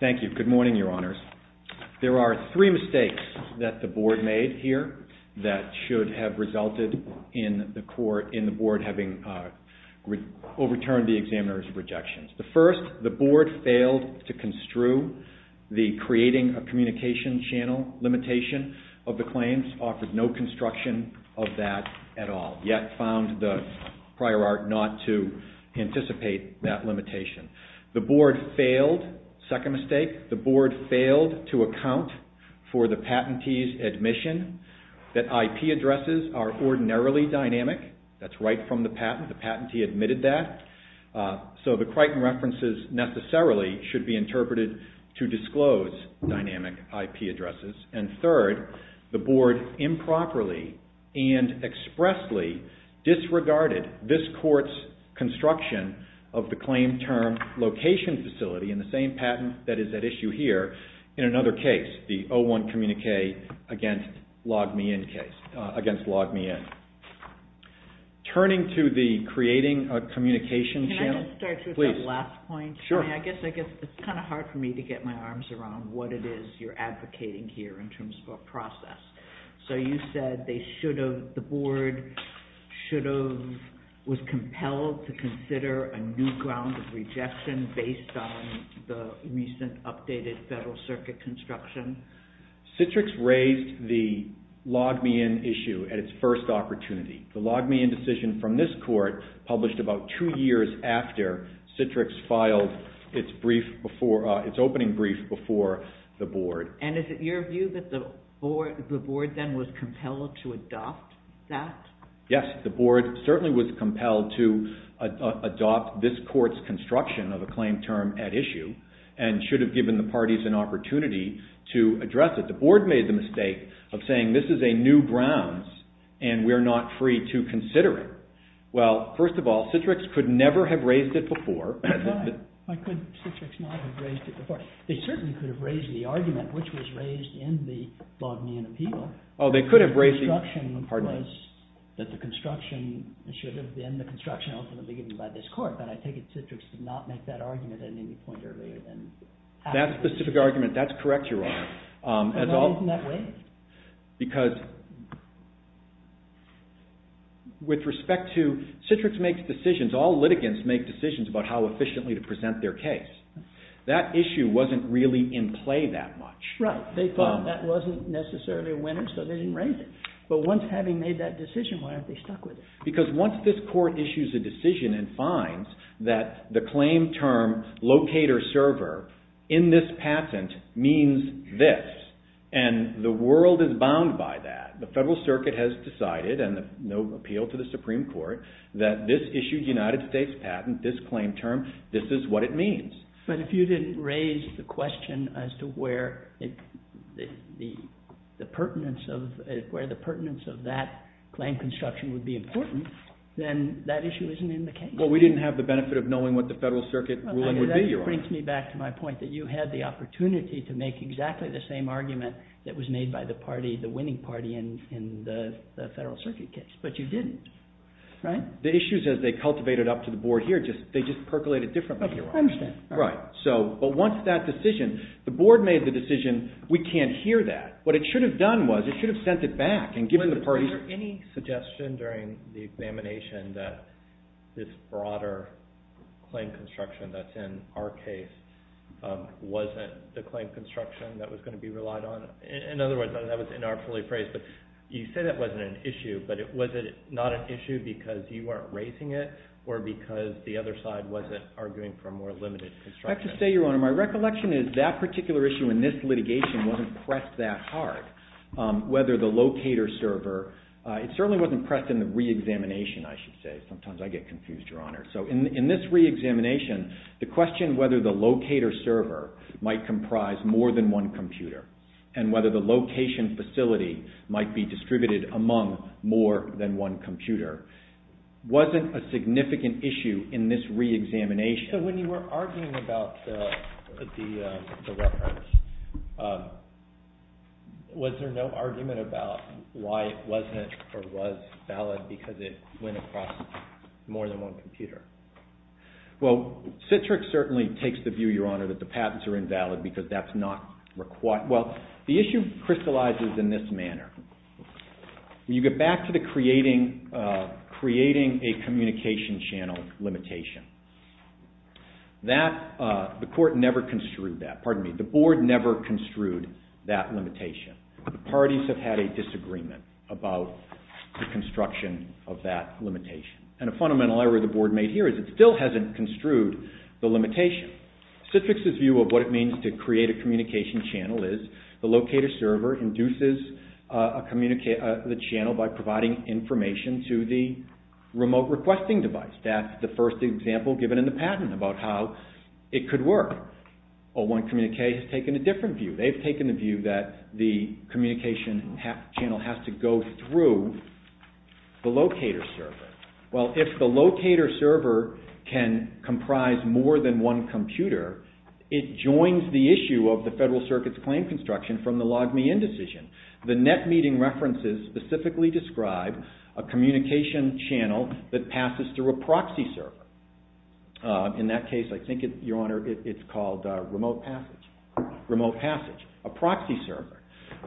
Thank you. Good morning, Your Honors. There are three mistakes that the Board made here that should have resulted in the Board having overturned the examiner's rejections. First, the Board failed to construe the creating a communication channel limitation of the claims, offered no construction of that at all, yet found the prior art not to anticipate that limitation. The Board failed, second mistake, the Board failed to account for the fact that IP addresses are ordinarily dynamic, that's right from the patent, the patentee admitted that, so the Crichton references necessarily should be interpreted to disclose dynamic IP addresses. And third, the Board improperly and expressly disregarded this court's construction of the claim term location facility in the same patent that is at issue here in another case, the 01 Communique against LogMeIn case, against LogMeIn. Turning to the creating a communication channel. Can I just start you with that last point? Sure. I mean, I guess it's kind of hard for me to get my arms around what it is you're advocating here in terms of a process. So you said they should have, the Board should have, was compelled to consider a new ground of rejection based on the recent updated Federal Circuit construction? Citrix raised the LogMeIn issue at its first opportunity. The LogMeIn decision from this court published about two years after Citrix filed its opening brief before the Board. And is it your view that the Board then was compelled to adopt that? Yes, the Board certainly was compelled to adopt this court's construction of a claim term at issue and should have given the parties an opportunity to address it. The Board made the mistake of saying this is a new grounds and we're not free to consider it. Well, first of all, Citrix could never have raised it before. Why could Citrix not have raised it before? They certainly could have raised the argument which was raised in the LogMeIn appeal. Oh, they could have said that the construction should have been, the construction ought to have been given by this court, but I take it Citrix did not make that argument at any point earlier than after. That specific argument, that's correct, Your Honor. And why isn't that raised? Because with respect to, Citrix makes decisions, all litigants make decisions about how efficiently to present their case. That issue wasn't really in play that much. Right. They thought that wasn't necessarily a winner, so they didn't raise it. But once having made that decision, why aren't they stuck with it? Because once this court issues a decision and finds that the claim term locator-server in this patent means this, and the world is bound by that. The Federal Circuit has decided, and no appeal to the Supreme Court, that this issued United States patent, this claim term, this is what it means. But if you didn't raise the question as to where the pertinence of that claim construction would be important, then that issue isn't in the case. Well, we didn't have the benefit of knowing what the Federal Circuit ruling would be, Your Honor. That brings me back to my point that you had the opportunity to make exactly the same argument that was made by the winning party in the Federal Circuit case, but you didn't. Right? The issues as they cultivated up to the board here, they just percolated differently, Your Honor. I understand. Right. But once that decision, the board made the decision, we can't hear that. What it should have done was, it should have sent it back and given the parties... Was there any suggestion during the examination that this broader claim construction that's in our case wasn't the claim construction that was going to be relied on? In other words, that was inartfully phrased, but you say that wasn't an issue, but was it not an issue because you weren't raising it, or because the other side wasn't arguing for a more limited construction? I have to say, Your Honor, my recollection is that particular issue in this litigation wasn't pressed that hard, whether the locator server... It certainly wasn't pressed in the re-examination, I should say. Sometimes I get confused, Your Honor. So in this re-examination, the question whether the locator server might comprise more than one computer and whether the location facility might be distributed among more than one computer wasn't a significant issue in this re-examination. So when you were arguing about the records, was there no argument about why it wasn't or was valid because it went across more than one computer? Well, Citrix certainly takes the view, Your Honor, that the patents are invalid because that's not required. Well, the issue crystallizes in this manner. When you get back to the creating a communication channel limitation, the board never construed that limitation. The parties have had a disagreement about the construction of that limitation. And a fundamental error the board made here is it still hasn't construed the limitation. Citrix's view of what it means to create a communication channel is the locator server induces the channel by providing information to the remote requesting device. That's the first example given in the patent about how it could work. 01 Communique has taken a different view. They've taken the view that the communication channel has to go through the locator server. Well, if the locator server can comprise more than one computer, it joins the issue of the Federal Circuit's claim construction from the Log Me In decision. The net meeting references specifically describe a communication channel that passes through a proxy server. In that case, I think, Your Honor, it's called remote passage, a proxy server.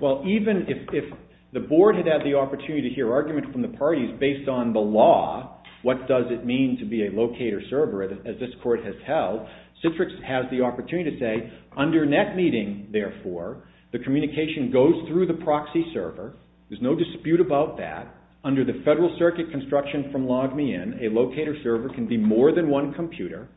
Well, even if the board had had the opportunity to hear argument from the parties based on the law, what does it mean to be a locator server as this court has held, Citrix has the opportunity to say, under net meeting, therefore, the communication goes through the proxy server. There's no dispute about that. Under the Federal Circuit construction from Log Me In, a locator server can be more than one computer.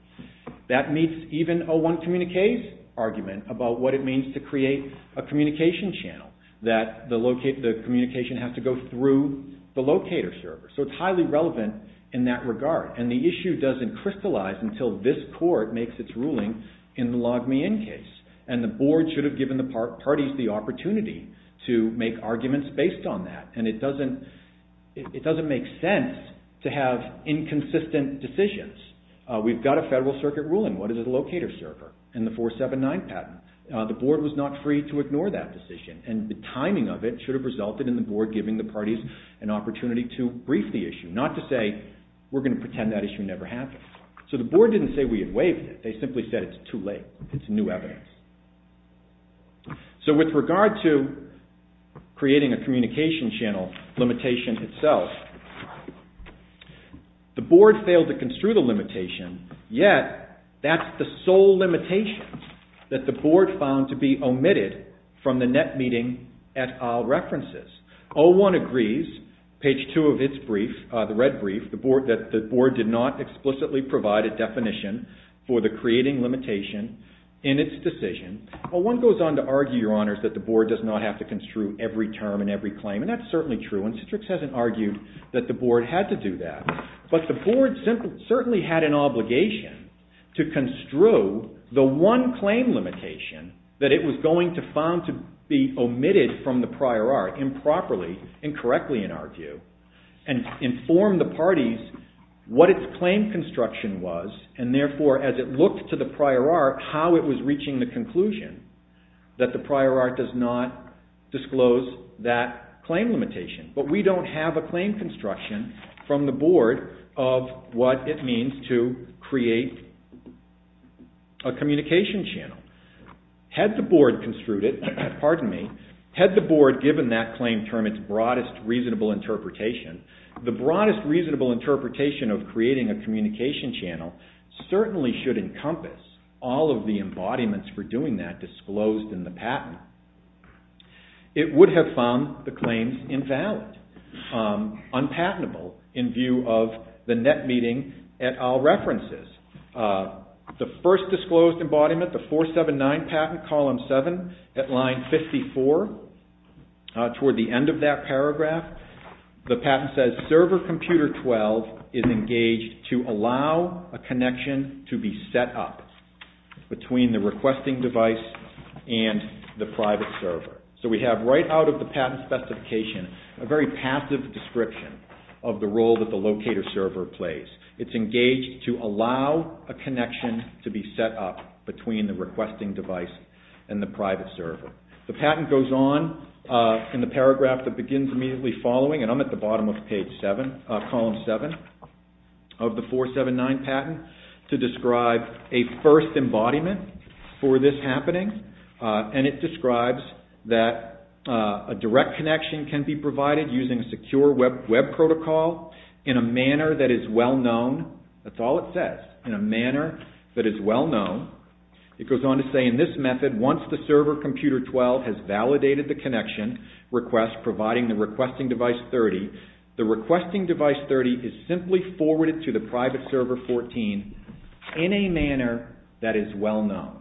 That meets even 01 Communique's argument about what it means to create a communication channel, that the communication has to go through the locator server. So it's highly relevant in that regard. And the issue doesn't crystallize until this court makes its ruling in the Log Me In case. And the board should have given the parties the opportunity to make arguments based on that. And it doesn't make sense to have inconsistent decisions. We've got a Federal Circuit ruling. What is a locator server in the 479 patent? The board was not free to ignore that decision. And the timing of it should have resulted in the board giving the parties an opportunity to brief the issue, not to say, we're going to pretend that issue never happened. So the board didn't say we had waived it. They simply said it's too late. It's new evidence. So with regard to creating a communication channel limitation itself, the board failed to construe the limitation, yet that's the sole limitation that the board found to be omitted from the net meeting et al. references. O-1 agrees, page 2 of its brief, the red brief, that the board did not explicitly provide a definition for the creating limitation in its decision. O-1 goes on to argue, Your Honors, that the board does not have to construe every term and every claim. And that's certainly true. And Citrix hasn't argued that the board had to do that. But the board certainly had an obligation to construe the one claim limitation that it was going to found to be omitted from the prior art improperly and correctly, in our view, and inform the parties what its claim construction was. And therefore, as it looked to the prior art, how it was reaching the conclusion that the prior art does not disclose that claim limitation. But we don't have a claim construction from the board of what it means to create a communication channel. Had the board given that claim term its broadest reasonable interpretation, the broadest reasonable interpretation of creating a communication channel certainly should encompass all of the embodiments for doing that disclosed in the patent. It would have found the claims invalid, unpatentable, in view of the net meeting et al. references. The first disclosed embodiment, the 479 patent, column 7, at line 54, toward the end of that paragraph, the patent says server computer 12 is engaged to allow a connection to be set up between the requesting device and the private server. So we have right out of the patent specification a very passive description of the role that the locator server plays. It's engaged to allow a connection to be set up between the requesting device and the private server. The patent goes on in the paragraph that begins immediately following, and I'm at the bottom of column 7 of the 479 patent, to describe a first embodiment for this happening. And it describes that a direct connection can be provided using a secure web protocol in a manner that is well known. That's all it says, in a manner that is well known. It goes on to say in this method, once the server computer 12 has validated the connection request providing the requesting device 30, the requesting device 30 is simply forwarded to the private server 14 in a manner that is well known.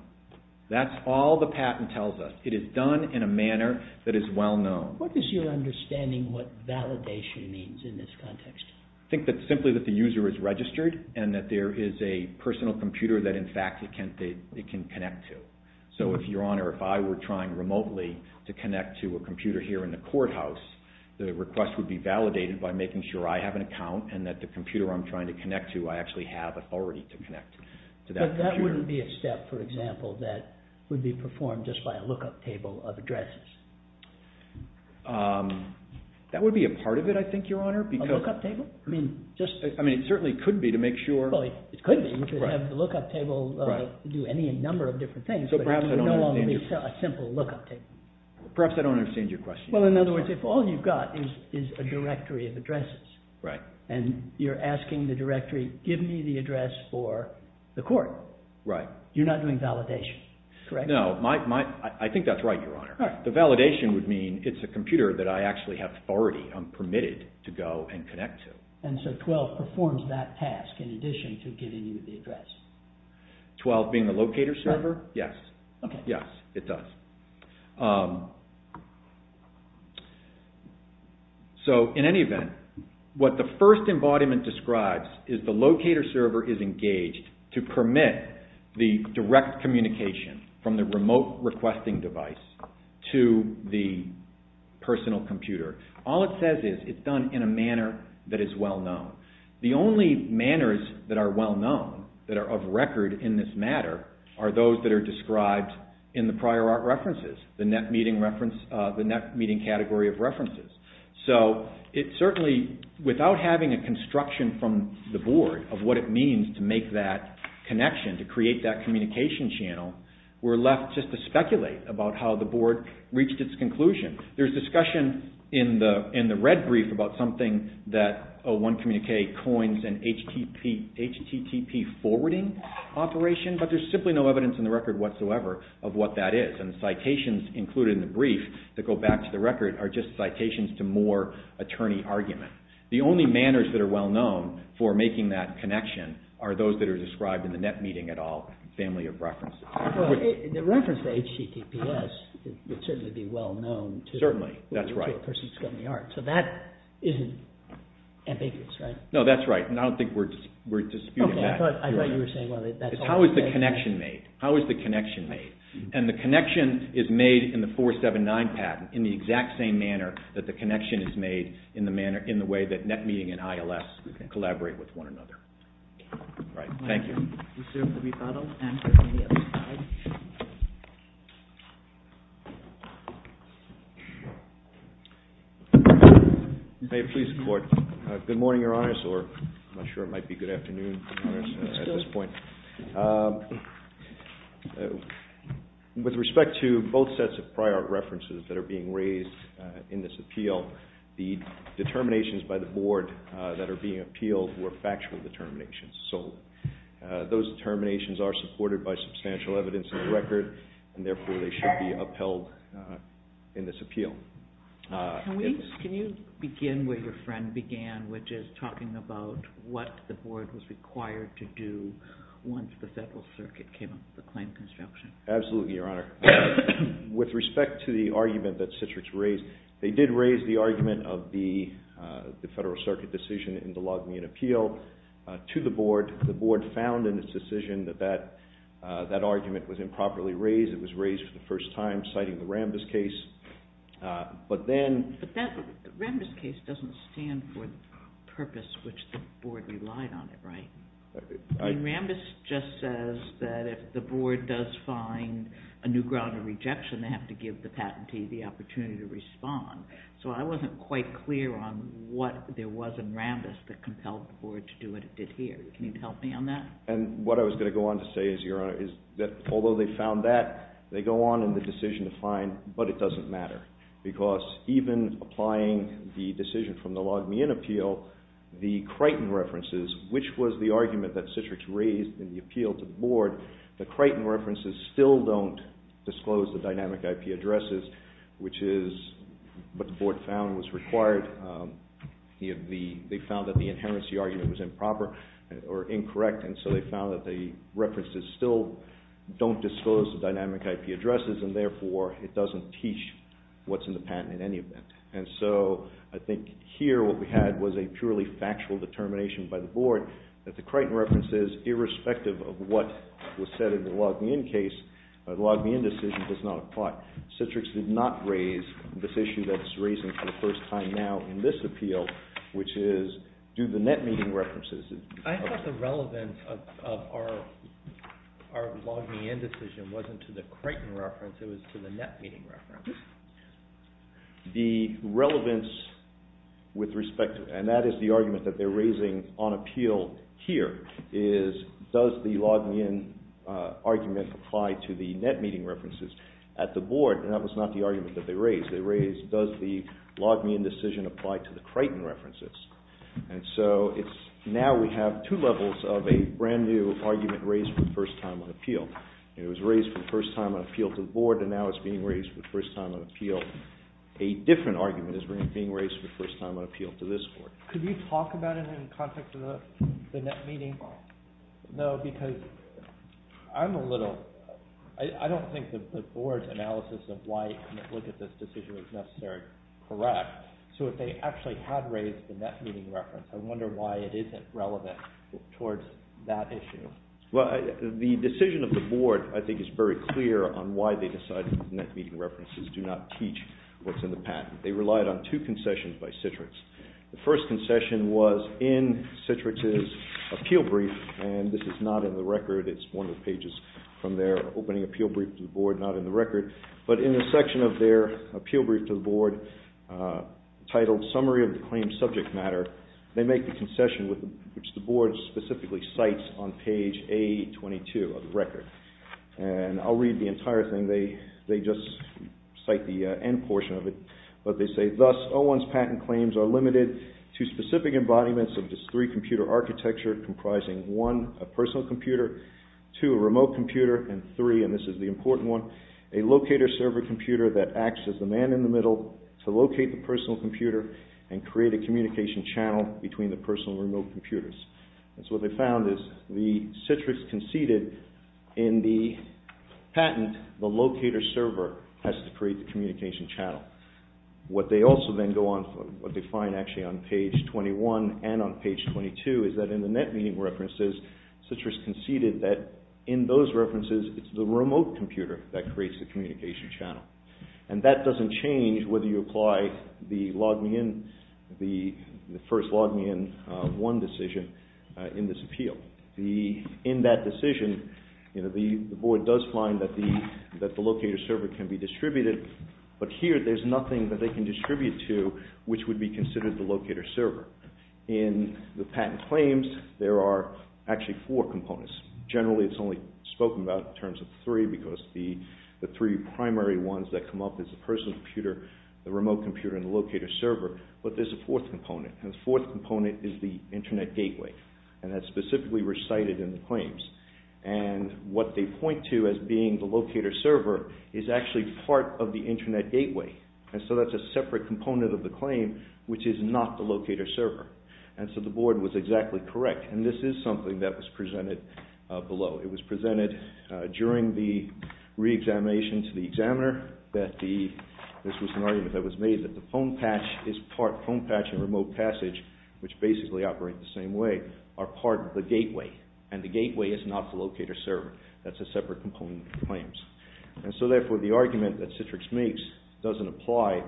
That's all the patent tells us. It is done in a manner that is well known. What is your understanding what validation means in this context? I think that simply that the user is registered and that there is a personal computer that in fact it can connect to. So if your honor, if I were trying remotely to connect to a computer here in the courthouse, the request would be validated by making sure I have an account and that the computer I'm trying to connect to, I actually have authority to connect to that computer. There wouldn't be a step, for example, that would be performed just by a look-up table of addresses. That would be a part of it, I think, your honor. A look-up table? I mean, it certainly could be to make sure. It could be. You could have the look-up table do any number of different things, but it would no longer be a simple look-up table. Perhaps I don't understand your question. Well, in other words, if all you've got is a directory of addresses and you're asking the directory, give me the address for the court, you're not doing validation, correct? No, I think that's right, your honor. The validation would mean it's a computer that I actually have authority, I'm permitted to go and connect to. And so 12 performs that task in addition to giving you the address. 12 being the locator server? Yes. Yes, it does. So, in any event, what the first embodiment describes is the locator server is engaged to permit the direct communication from the remote requesting device to the personal computer. All it says is it's done in a manner that is well-known. The only manners that are well-known, that are of record in this matter, are those that are described in the prior art record. The net meeting reference, the net meeting category of references. So, it certainly, without having a construction from the board of what it means to make that connection, to create that communication channel, we're left just to speculate about how the board reached its conclusion. There's discussion in the red brief about something that 01Communicate coins an HTTP forwarding operation, but there's simply no evidence in the record whatsoever of what that is. And the citations included in the brief that go back to the record are just citations to more attorney argument. The only manners that are well-known for making that connection are those that are described in the net meeting at all family of reference. The reference to HTTPS would certainly be well-known. Certainly, that's right. So, that isn't ambiguous, right? No, that's right, and I don't think we're disputing that. How is the connection made? How is the connection made? And the connection is made in the 479 patent in the exact same manner that the connection is made in the manner, in the way that net meeting and ILS collaborate with one another. Thank you. Please report. Good morning, Your Honor, or I'm not sure it might be good afternoon at this point. With respect to both sets of prior references that are being raised in this appeal, the determinations by the board that are being appealed were factual determinations. So, those determinations are supported by substantial evidence in the record, Can you begin where your friend began, which is talking about what the board was required to do once the Federal Circuit came up with the claim construction? Absolutely, Your Honor. With respect to the argument that Citrix raised, they did raise the argument of the Federal Circuit decision in the Logmean appeal to the board. The board found in its decision that that argument was improperly raised. It was raised for the first time, citing the Rambis case. But then... But that Rambis case doesn't stand for the purpose which the board relied on it, right? Rambis just says that if the board does find a new ground of rejection, they have to give the patentee the opportunity to respond. So, I wasn't quite clear on what there was in Rambis that compelled the board to do what it did here. Can you help me on that? And what I was going to go on to say is, Your Honor, is that although they found that, they go on in the decision to find, but it doesn't matter. Because even applying the decision from the Logmean appeal, the Crichton references, which was the argument that Citrix raised in the appeal to the board, the Crichton references still don't disclose the dynamic IP addresses, which is what the board found was required. They found that the inherency argument was improper or incorrect, and so they found that the references still don't disclose the dynamic IP addresses, and therefore, it doesn't teach what's in the patent in any event. And so, I think here what we had was a purely factual determination by the board that the Crichton references, irrespective of what was said in the Logmean case, the Logmean decision does not apply. Citrix did not raise this issue that it's raising for the first time now in this appeal, which is, do the net meeting references? I thought the relevance of our Logmean decision wasn't to the Crichton reference, it was to the net meeting reference. The relevance with respect to it, and that is the argument that they're raising on appeal here, is does the Logmean argument apply to the net meeting references at the board, and that was not the argument that they raised. They raised, does the Logmean decision apply to the Crichton references? And so, now we have two levels of a brand new argument raised for the first time on appeal. It was raised for the first time on appeal to the board, and now it's being raised for the first time on appeal. A different argument is being raised for the first time on appeal to this court. Could you talk about it in the context of the net meeting? No, because I'm a little, I don't think the board's analysis of why you're going to look at this decision is necessarily correct. So if they actually had raised the net meeting reference, I wonder why it isn't relevant towards that issue. Well, the decision of the board, I think, is very clear on why they decided that the net meeting references do not teach what's in the patent. They relied on two concessions by Citrix. The first concession was in Citrix's appeal brief, and this is not in the record, it's one of the pages from their opening appeal brief to the board, not in the record, but in the section of their appeal brief to the board, titled Summary of the Claims Subject Matter. They make the concession, which the board specifically cites on page A-22 of the record. And I'll read the entire thing. They just cite the end portion of it, but they say, Thus, O-1's patent claims are limited to specific embodiments of just three computer architecture comprising, one, a personal computer, two, a remote computer, and three, and this is the important one, a locator server computer that acts as the man in the middle to locate the personal computer and create a communication channel between the personal and remote computers. And so what they found is the Citrix conceded in the patent, the locator server has to create the communication channel. What they also then go on, what they find actually on page 21 and on page 22, is that in the net meeting references, Citrix conceded that in those references, it's the remote computer that creates the communication channel. And that doesn't change whether you apply the log me in, the first log me in one decision in this appeal. In that decision, the board does find that the locator server can be distributed, but here there's nothing that they can distribute to which would be considered the locator server. In the patent claims, there are actually four components. Generally, it's only spoken about in terms of three because the three primary ones that come up is the personal computer, the remote computer, and the locator server, but there's a fourth component. And the fourth component is the internet gateway. And that's specifically recited in the claims. And what they point to as being the locator server is actually part of the internet gateway. And so that's a separate component of the claim which is not the locator server. And so the board was exactly correct. And this is something that was presented below. It was presented during the reexamination to the examiner that this was an argument that was made that the phone patch is part, phone patch and remote passage, which basically operate the same way, are part of the gateway. And the gateway is not the locator server. That's a separate component of the claims. And so therefore, the argument that Citrix makes doesn't apply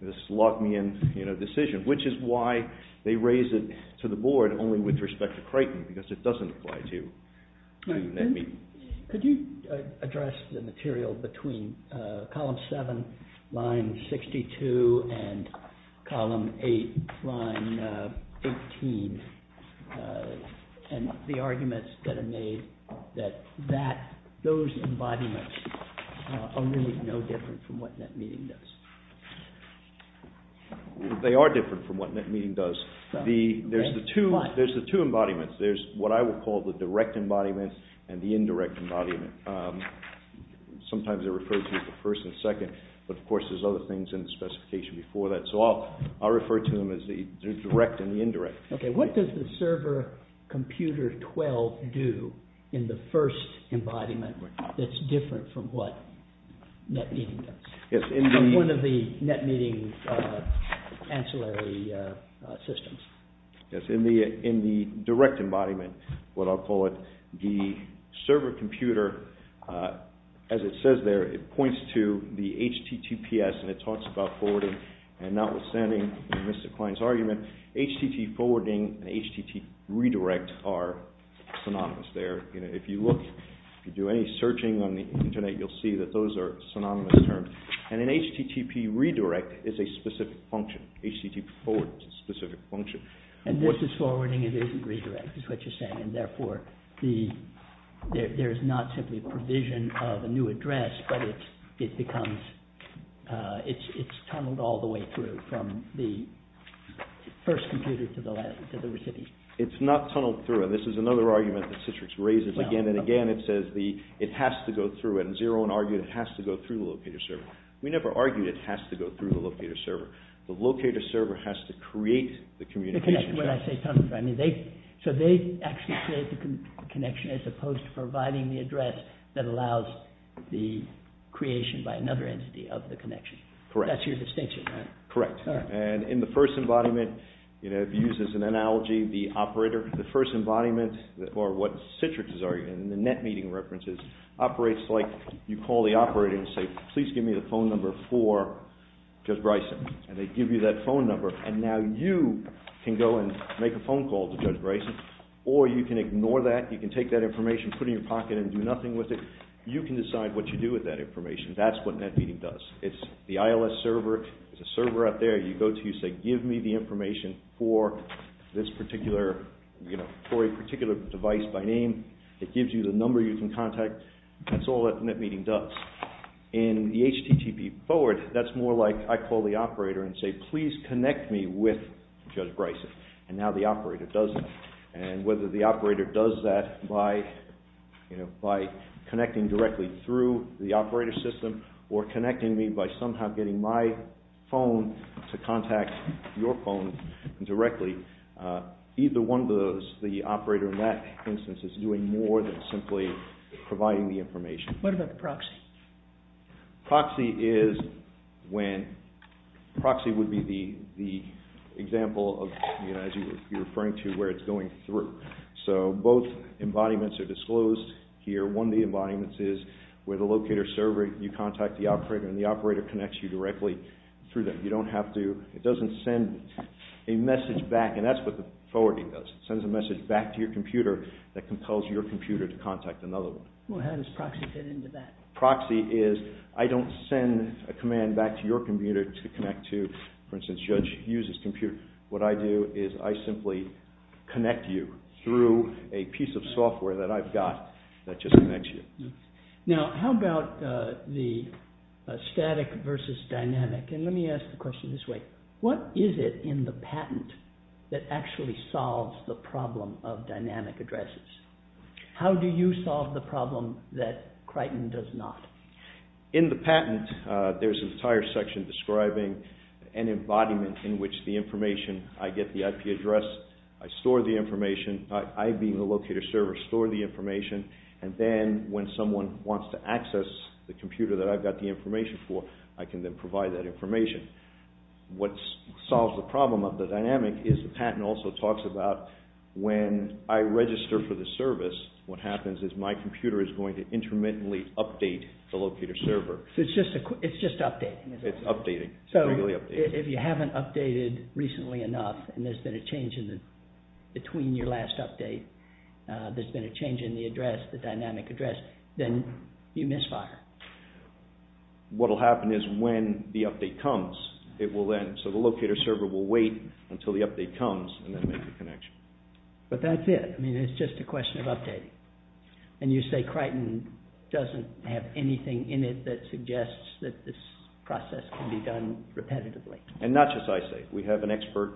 to this log me in decision, which is why they raise it to the board only with respect to Crichton because it doesn't apply to NetMeeting. Could you address the material between column 7, line 62, and column 8, line 18 and the arguments that are made that those embodiments are really no different from what NetMeeting does? They are different from what NetMeeting does. There's the two embodiments. There's what I would call the direct embodiment and the indirect embodiment. Sometimes they're referred to as the first and second, but of course there's other things in the specification before that. So I'll refer to them as the direct and the indirect. Okay, what does the server computer 12 do in the first embodiment that's different from what NetMeeting does? One of the NetMeeting ancillary systems. Yes, in the direct embodiment, what I'll call it, the server computer, as it says there, it points to the HTTPS and it talks about forwarding and not withstanding Mr. Klein's argument, HTT forwarding and HTT redirect are synonymous there. If you look, if you do any searching on the Internet, you'll see that those are synonymous terms. And an HTTP redirect is a specific function. HTTP forward is a specific function. And this is forwarding and this is redirect is what you're saying and therefore there is not simply a provision of a new address, but it becomes, it's tunneled all the way through from the first computer to the last, to the recipient. It's not tunneled through. This is another argument that Citrix raises again and again. It says it has to go through it. And 0-1 argued it has to go through the locator server. We never argued it has to go through the locator server. The locator server has to create the communication. When I say tunneled through, I mean they, so they actually create the connection as opposed to providing the address that allows the creation by another entity of the connection. Correct. That's your distinction, right? Correct. And in the first embodiment, I've used this as an analogy, the operator, the first embodiment, or what Citrix is arguing, and the NetMeeting references, operates like you call the operator and say, please give me the phone number for Judge Bryson. And they give you that phone number, and now you can go and make a phone call to Judge Bryson, or you can ignore that, you can take that information, put it in your pocket and do nothing with it. You can decide what you do with that information. That's what NetMeeting does. It's the ILS server. It's a server out there. You go to, you say, give me the information for this particular, for a particular device by name. It gives you the number you can contact. That's all that NetMeeting does. In the HTTP forward, that's more like I call the operator and say, please connect me with Judge Bryson. And now the operator does that. And whether the operator does that by connecting directly through the operator system or connecting me by somehow getting my phone to contact your phone directly, either one of those, the operator in that instance, is doing more than simply providing the information. What about the proxy? Proxy is when, proxy would be the example of, as you were referring to, where it's going through. So both embodiments are disclosed here. One of the embodiments is where the locator server, you contact the operator and the operator connects you directly through them. You don't have to, it doesn't send a message back. And that's what the forwarding does. It sends a message back to your computer that compels your computer to contact another one. Well, how does proxy fit into that? Proxy is, I don't send a command back to your computer to connect to, for instance, Judge Hughes' computer. What I do is I simply connect you through a piece of software that I've got that just connects you. Now, how about the static versus dynamic? And let me ask the question this way. What is it in the patent that actually solves the problem of dynamic addresses? How do you solve the problem that Crichton does not? In the patent, there's an entire section describing an embodiment in which the information, I get the IP address, I store the information, I being the locator server store the information, and then when someone wants to access the computer that I've got the information for, I can then provide that information. What solves the problem of the dynamic is the patent also talks about when I register for the service, what happens is my computer is going to intermittently update the locator server. So it's just updating. It's updating. It's regularly updating. So if you haven't updated recently enough and there's been a change between your last update, there's been a change in the address, the dynamic address, then you misfire. What will happen is when the update comes, it will then, so the locator server will wait until the update comes and then make the connection. But that's it. I mean, it's just a question of updating. And you say Crichton doesn't have anything in it that suggests that this process can be done repetitively. And not just ISAIC. We have an expert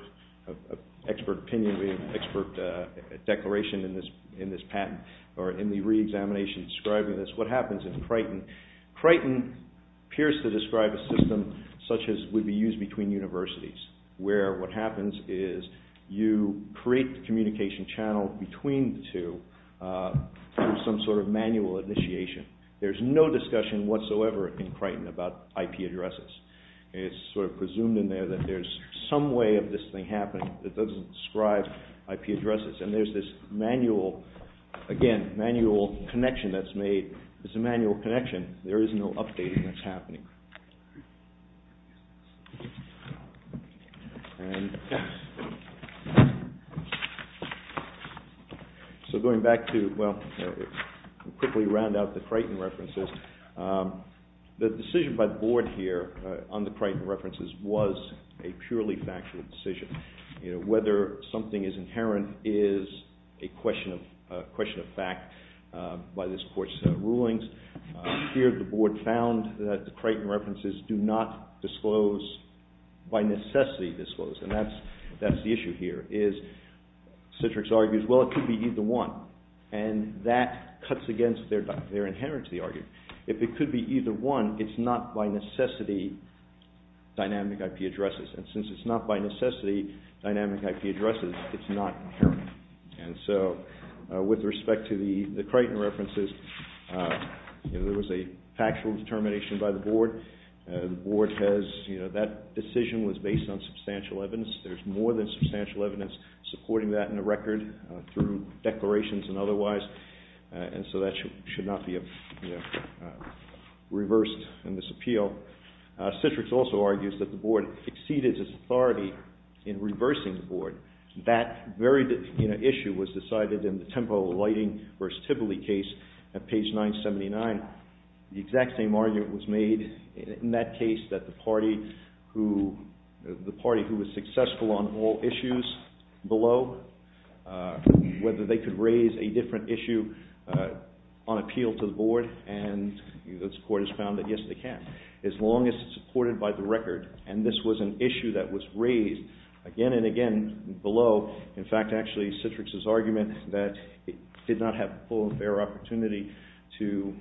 opinion, we have an expert declaration in this patent, or in the re-examination describing this. So that's what happens in Crichton. Crichton appears to describe a system such as would be used between universities, where what happens is you create the communication channel between the two through some sort of manual initiation. There's no discussion whatsoever in Crichton about IP addresses. It's sort of presumed in there that there's some way of this thing happening that doesn't describe IP addresses. And there's this manual, again, manual connection that's made. It's a manual connection. There is no updating that's happening. So going back to, well, quickly round out the Crichton references. The decision by the board here on the Crichton references was a purely factual decision. Whether something is inherent is a question of fact by this court's rulings. Here the board found that the Crichton references do not disclose, by necessity disclose. And that's the issue here is Citrix argues, well, it could be either one. And that cuts against their inherent to the argument. If it could be either one, it's not by necessity dynamic IP addresses. And since it's not by necessity dynamic IP addresses, it's not inherent. And so with respect to the Crichton references, there was a factual determination by the board. The board has, you know, that decision was based on substantial evidence. There's more than substantial evidence supporting that in the record through declarations and otherwise. And so that should not be reversed in this appeal. Citrix also argues that the board exceeded its authority in reversing the board. That very issue was decided in the Tempo Lighting v. Tibly case at page 979. The exact same argument was made in that case that the party who was successful on all issues below, whether they could raise a different issue on appeal to the board, and this court has found that, yes, they can. As long as it's supported by the record. And this was an issue that was raised again and again below. In fact, actually, Citrix's argument that it did not have a full and fair opportunity to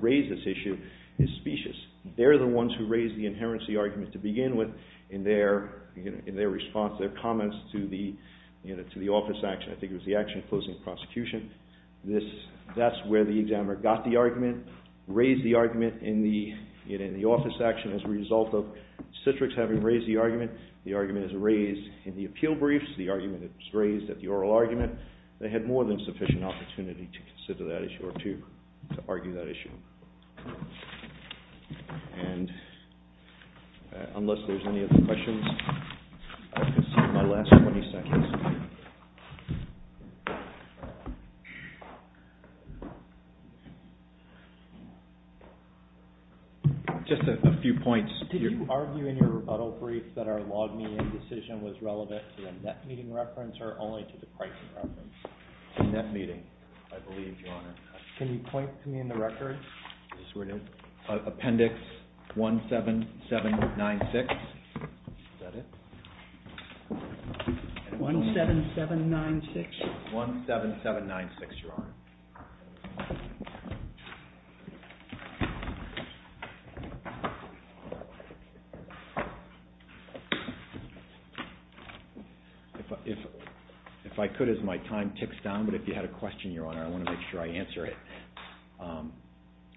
raise this issue is specious. They're the ones who raised the inherency argument to begin with in their response, their comments to the office action. I think it was the action opposing prosecution. That's where the examiner got the argument, raised the argument in the office action as a result of Citrix having raised the argument. The argument is raised in the appeal briefs. The argument is raised at the oral argument. They had more than sufficient opportunity to consider that issue or to argue that issue. And unless there's any other questions, I'll concede my last 20 seconds. Just a few points. Did you argue in your rebuttal brief that our log meeting decision was relevant to the net meeting reference or only to the pricing reference? The net meeting, I believe, Your Honor. Can you point to me in the record? This is where it is. Appendix 17796. Is that it? 17796? 17796, Your Honor. If I could, as my time ticks down, but if you had a question, Your Honor, I want to make sure I answer it.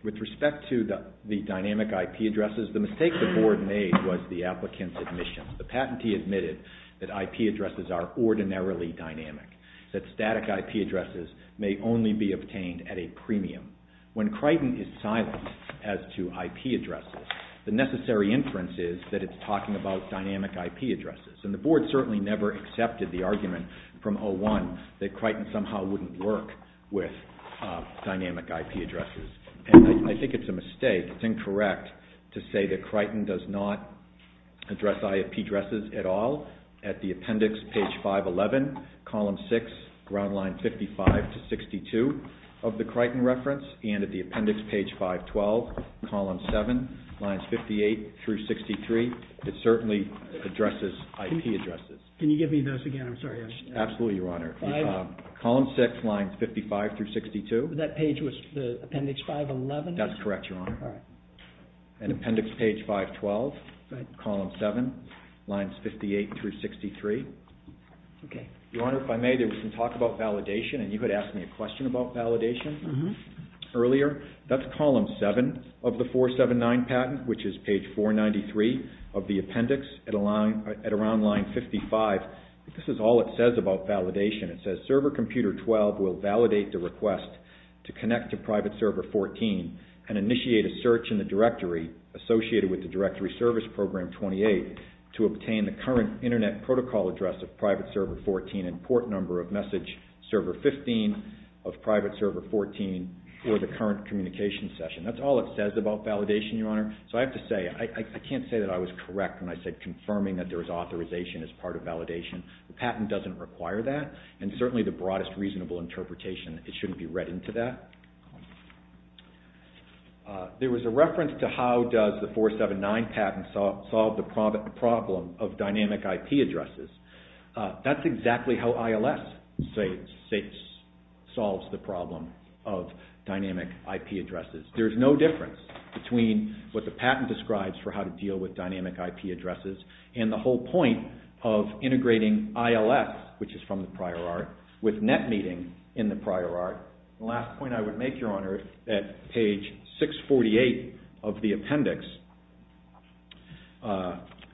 With respect to the dynamic IP addresses, the mistake the board made was the applicant's admission. The patentee admitted that IP addresses are ordinarily dynamic, that static IP addresses may only be obtained at a premium. When Crichton is silent as to IP addresses, the necessary inference is that it's talking about dynamic IP addresses. And the board certainly never accepted the argument from 01 that Crichton somehow wouldn't work with dynamic IP addresses. And I think it's a mistake, it's incorrect to say that Crichton does not address IP addresses at all. At the appendix, page 511, column 6, ground line 55 to 62 of the Crichton reference, and at the appendix, page 512, column 7, lines 58 through 63, it certainly addresses IP addresses. Can you give me those again? I'm sorry. Absolutely, Your Honor. Column 6, lines 55 through 62. That page was appendix 511? That's correct, Your Honor. All right. And appendix page 512, column 7, lines 58 through 63. Okay. Your Honor, if I may, there was some talk about validation, and you had asked me a question about validation earlier. That's column 7 of the 479 patent, which is page 493 of the appendix at around line 55. This is all it says about validation. It says, server computer 12 will validate the request to connect to private server 14 and initiate a search in the directory associated with the directory service program 28 to obtain the current internet protocol address of private server 14 and port number of message server 15 of private server 14 for the current communication session. That's all it says about validation, Your Honor. So I have to say, I can't say that I was correct when I said confirming that there was authorization as part of validation. The patent doesn't require that, and certainly the broadest reasonable interpretation. It shouldn't be read into that. There was a reference to how does the 479 patent solve the problem of dynamic IP addresses. That's exactly how ILS solves the problem of dynamic IP addresses. There's no difference between what the patent describes for how to deal with dynamic IP addresses and the whole point of integrating ILS, which is from the prior art, with NetMeeting in the prior art. The last point I would make, Your Honor, at page 648 of the appendix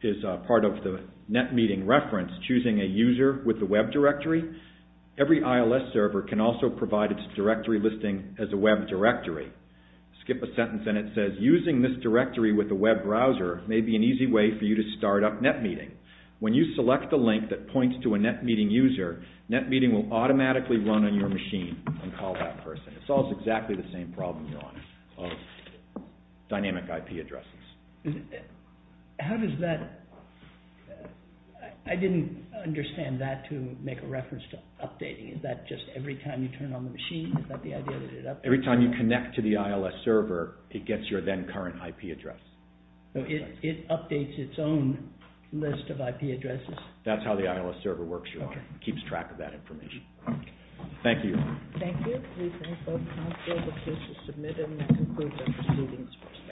is part of the NetMeeting reference, choosing a user with a web directory. Every ILS server can also provide its directory listing as a web directory. Skip a sentence and it says, using this directory with a web browser may be an easy way for you to start up NetMeeting. When you select the link that points to a NetMeeting user, NetMeeting will automatically run on your machine and call that person. It solves exactly the same problem, Your Honor, of dynamic IP addresses. How does that, I didn't understand that to make a reference to updating. Is that just every time you turn on the machine? Every time you connect to the ILS server, it gets your then current IP address. It updates its own list of IP addresses? That's how the ILS server works, Your Honor. It keeps track of that information. Thank you. Thank you. We thank both counsels. The case is submitted and that concludes our proceedings.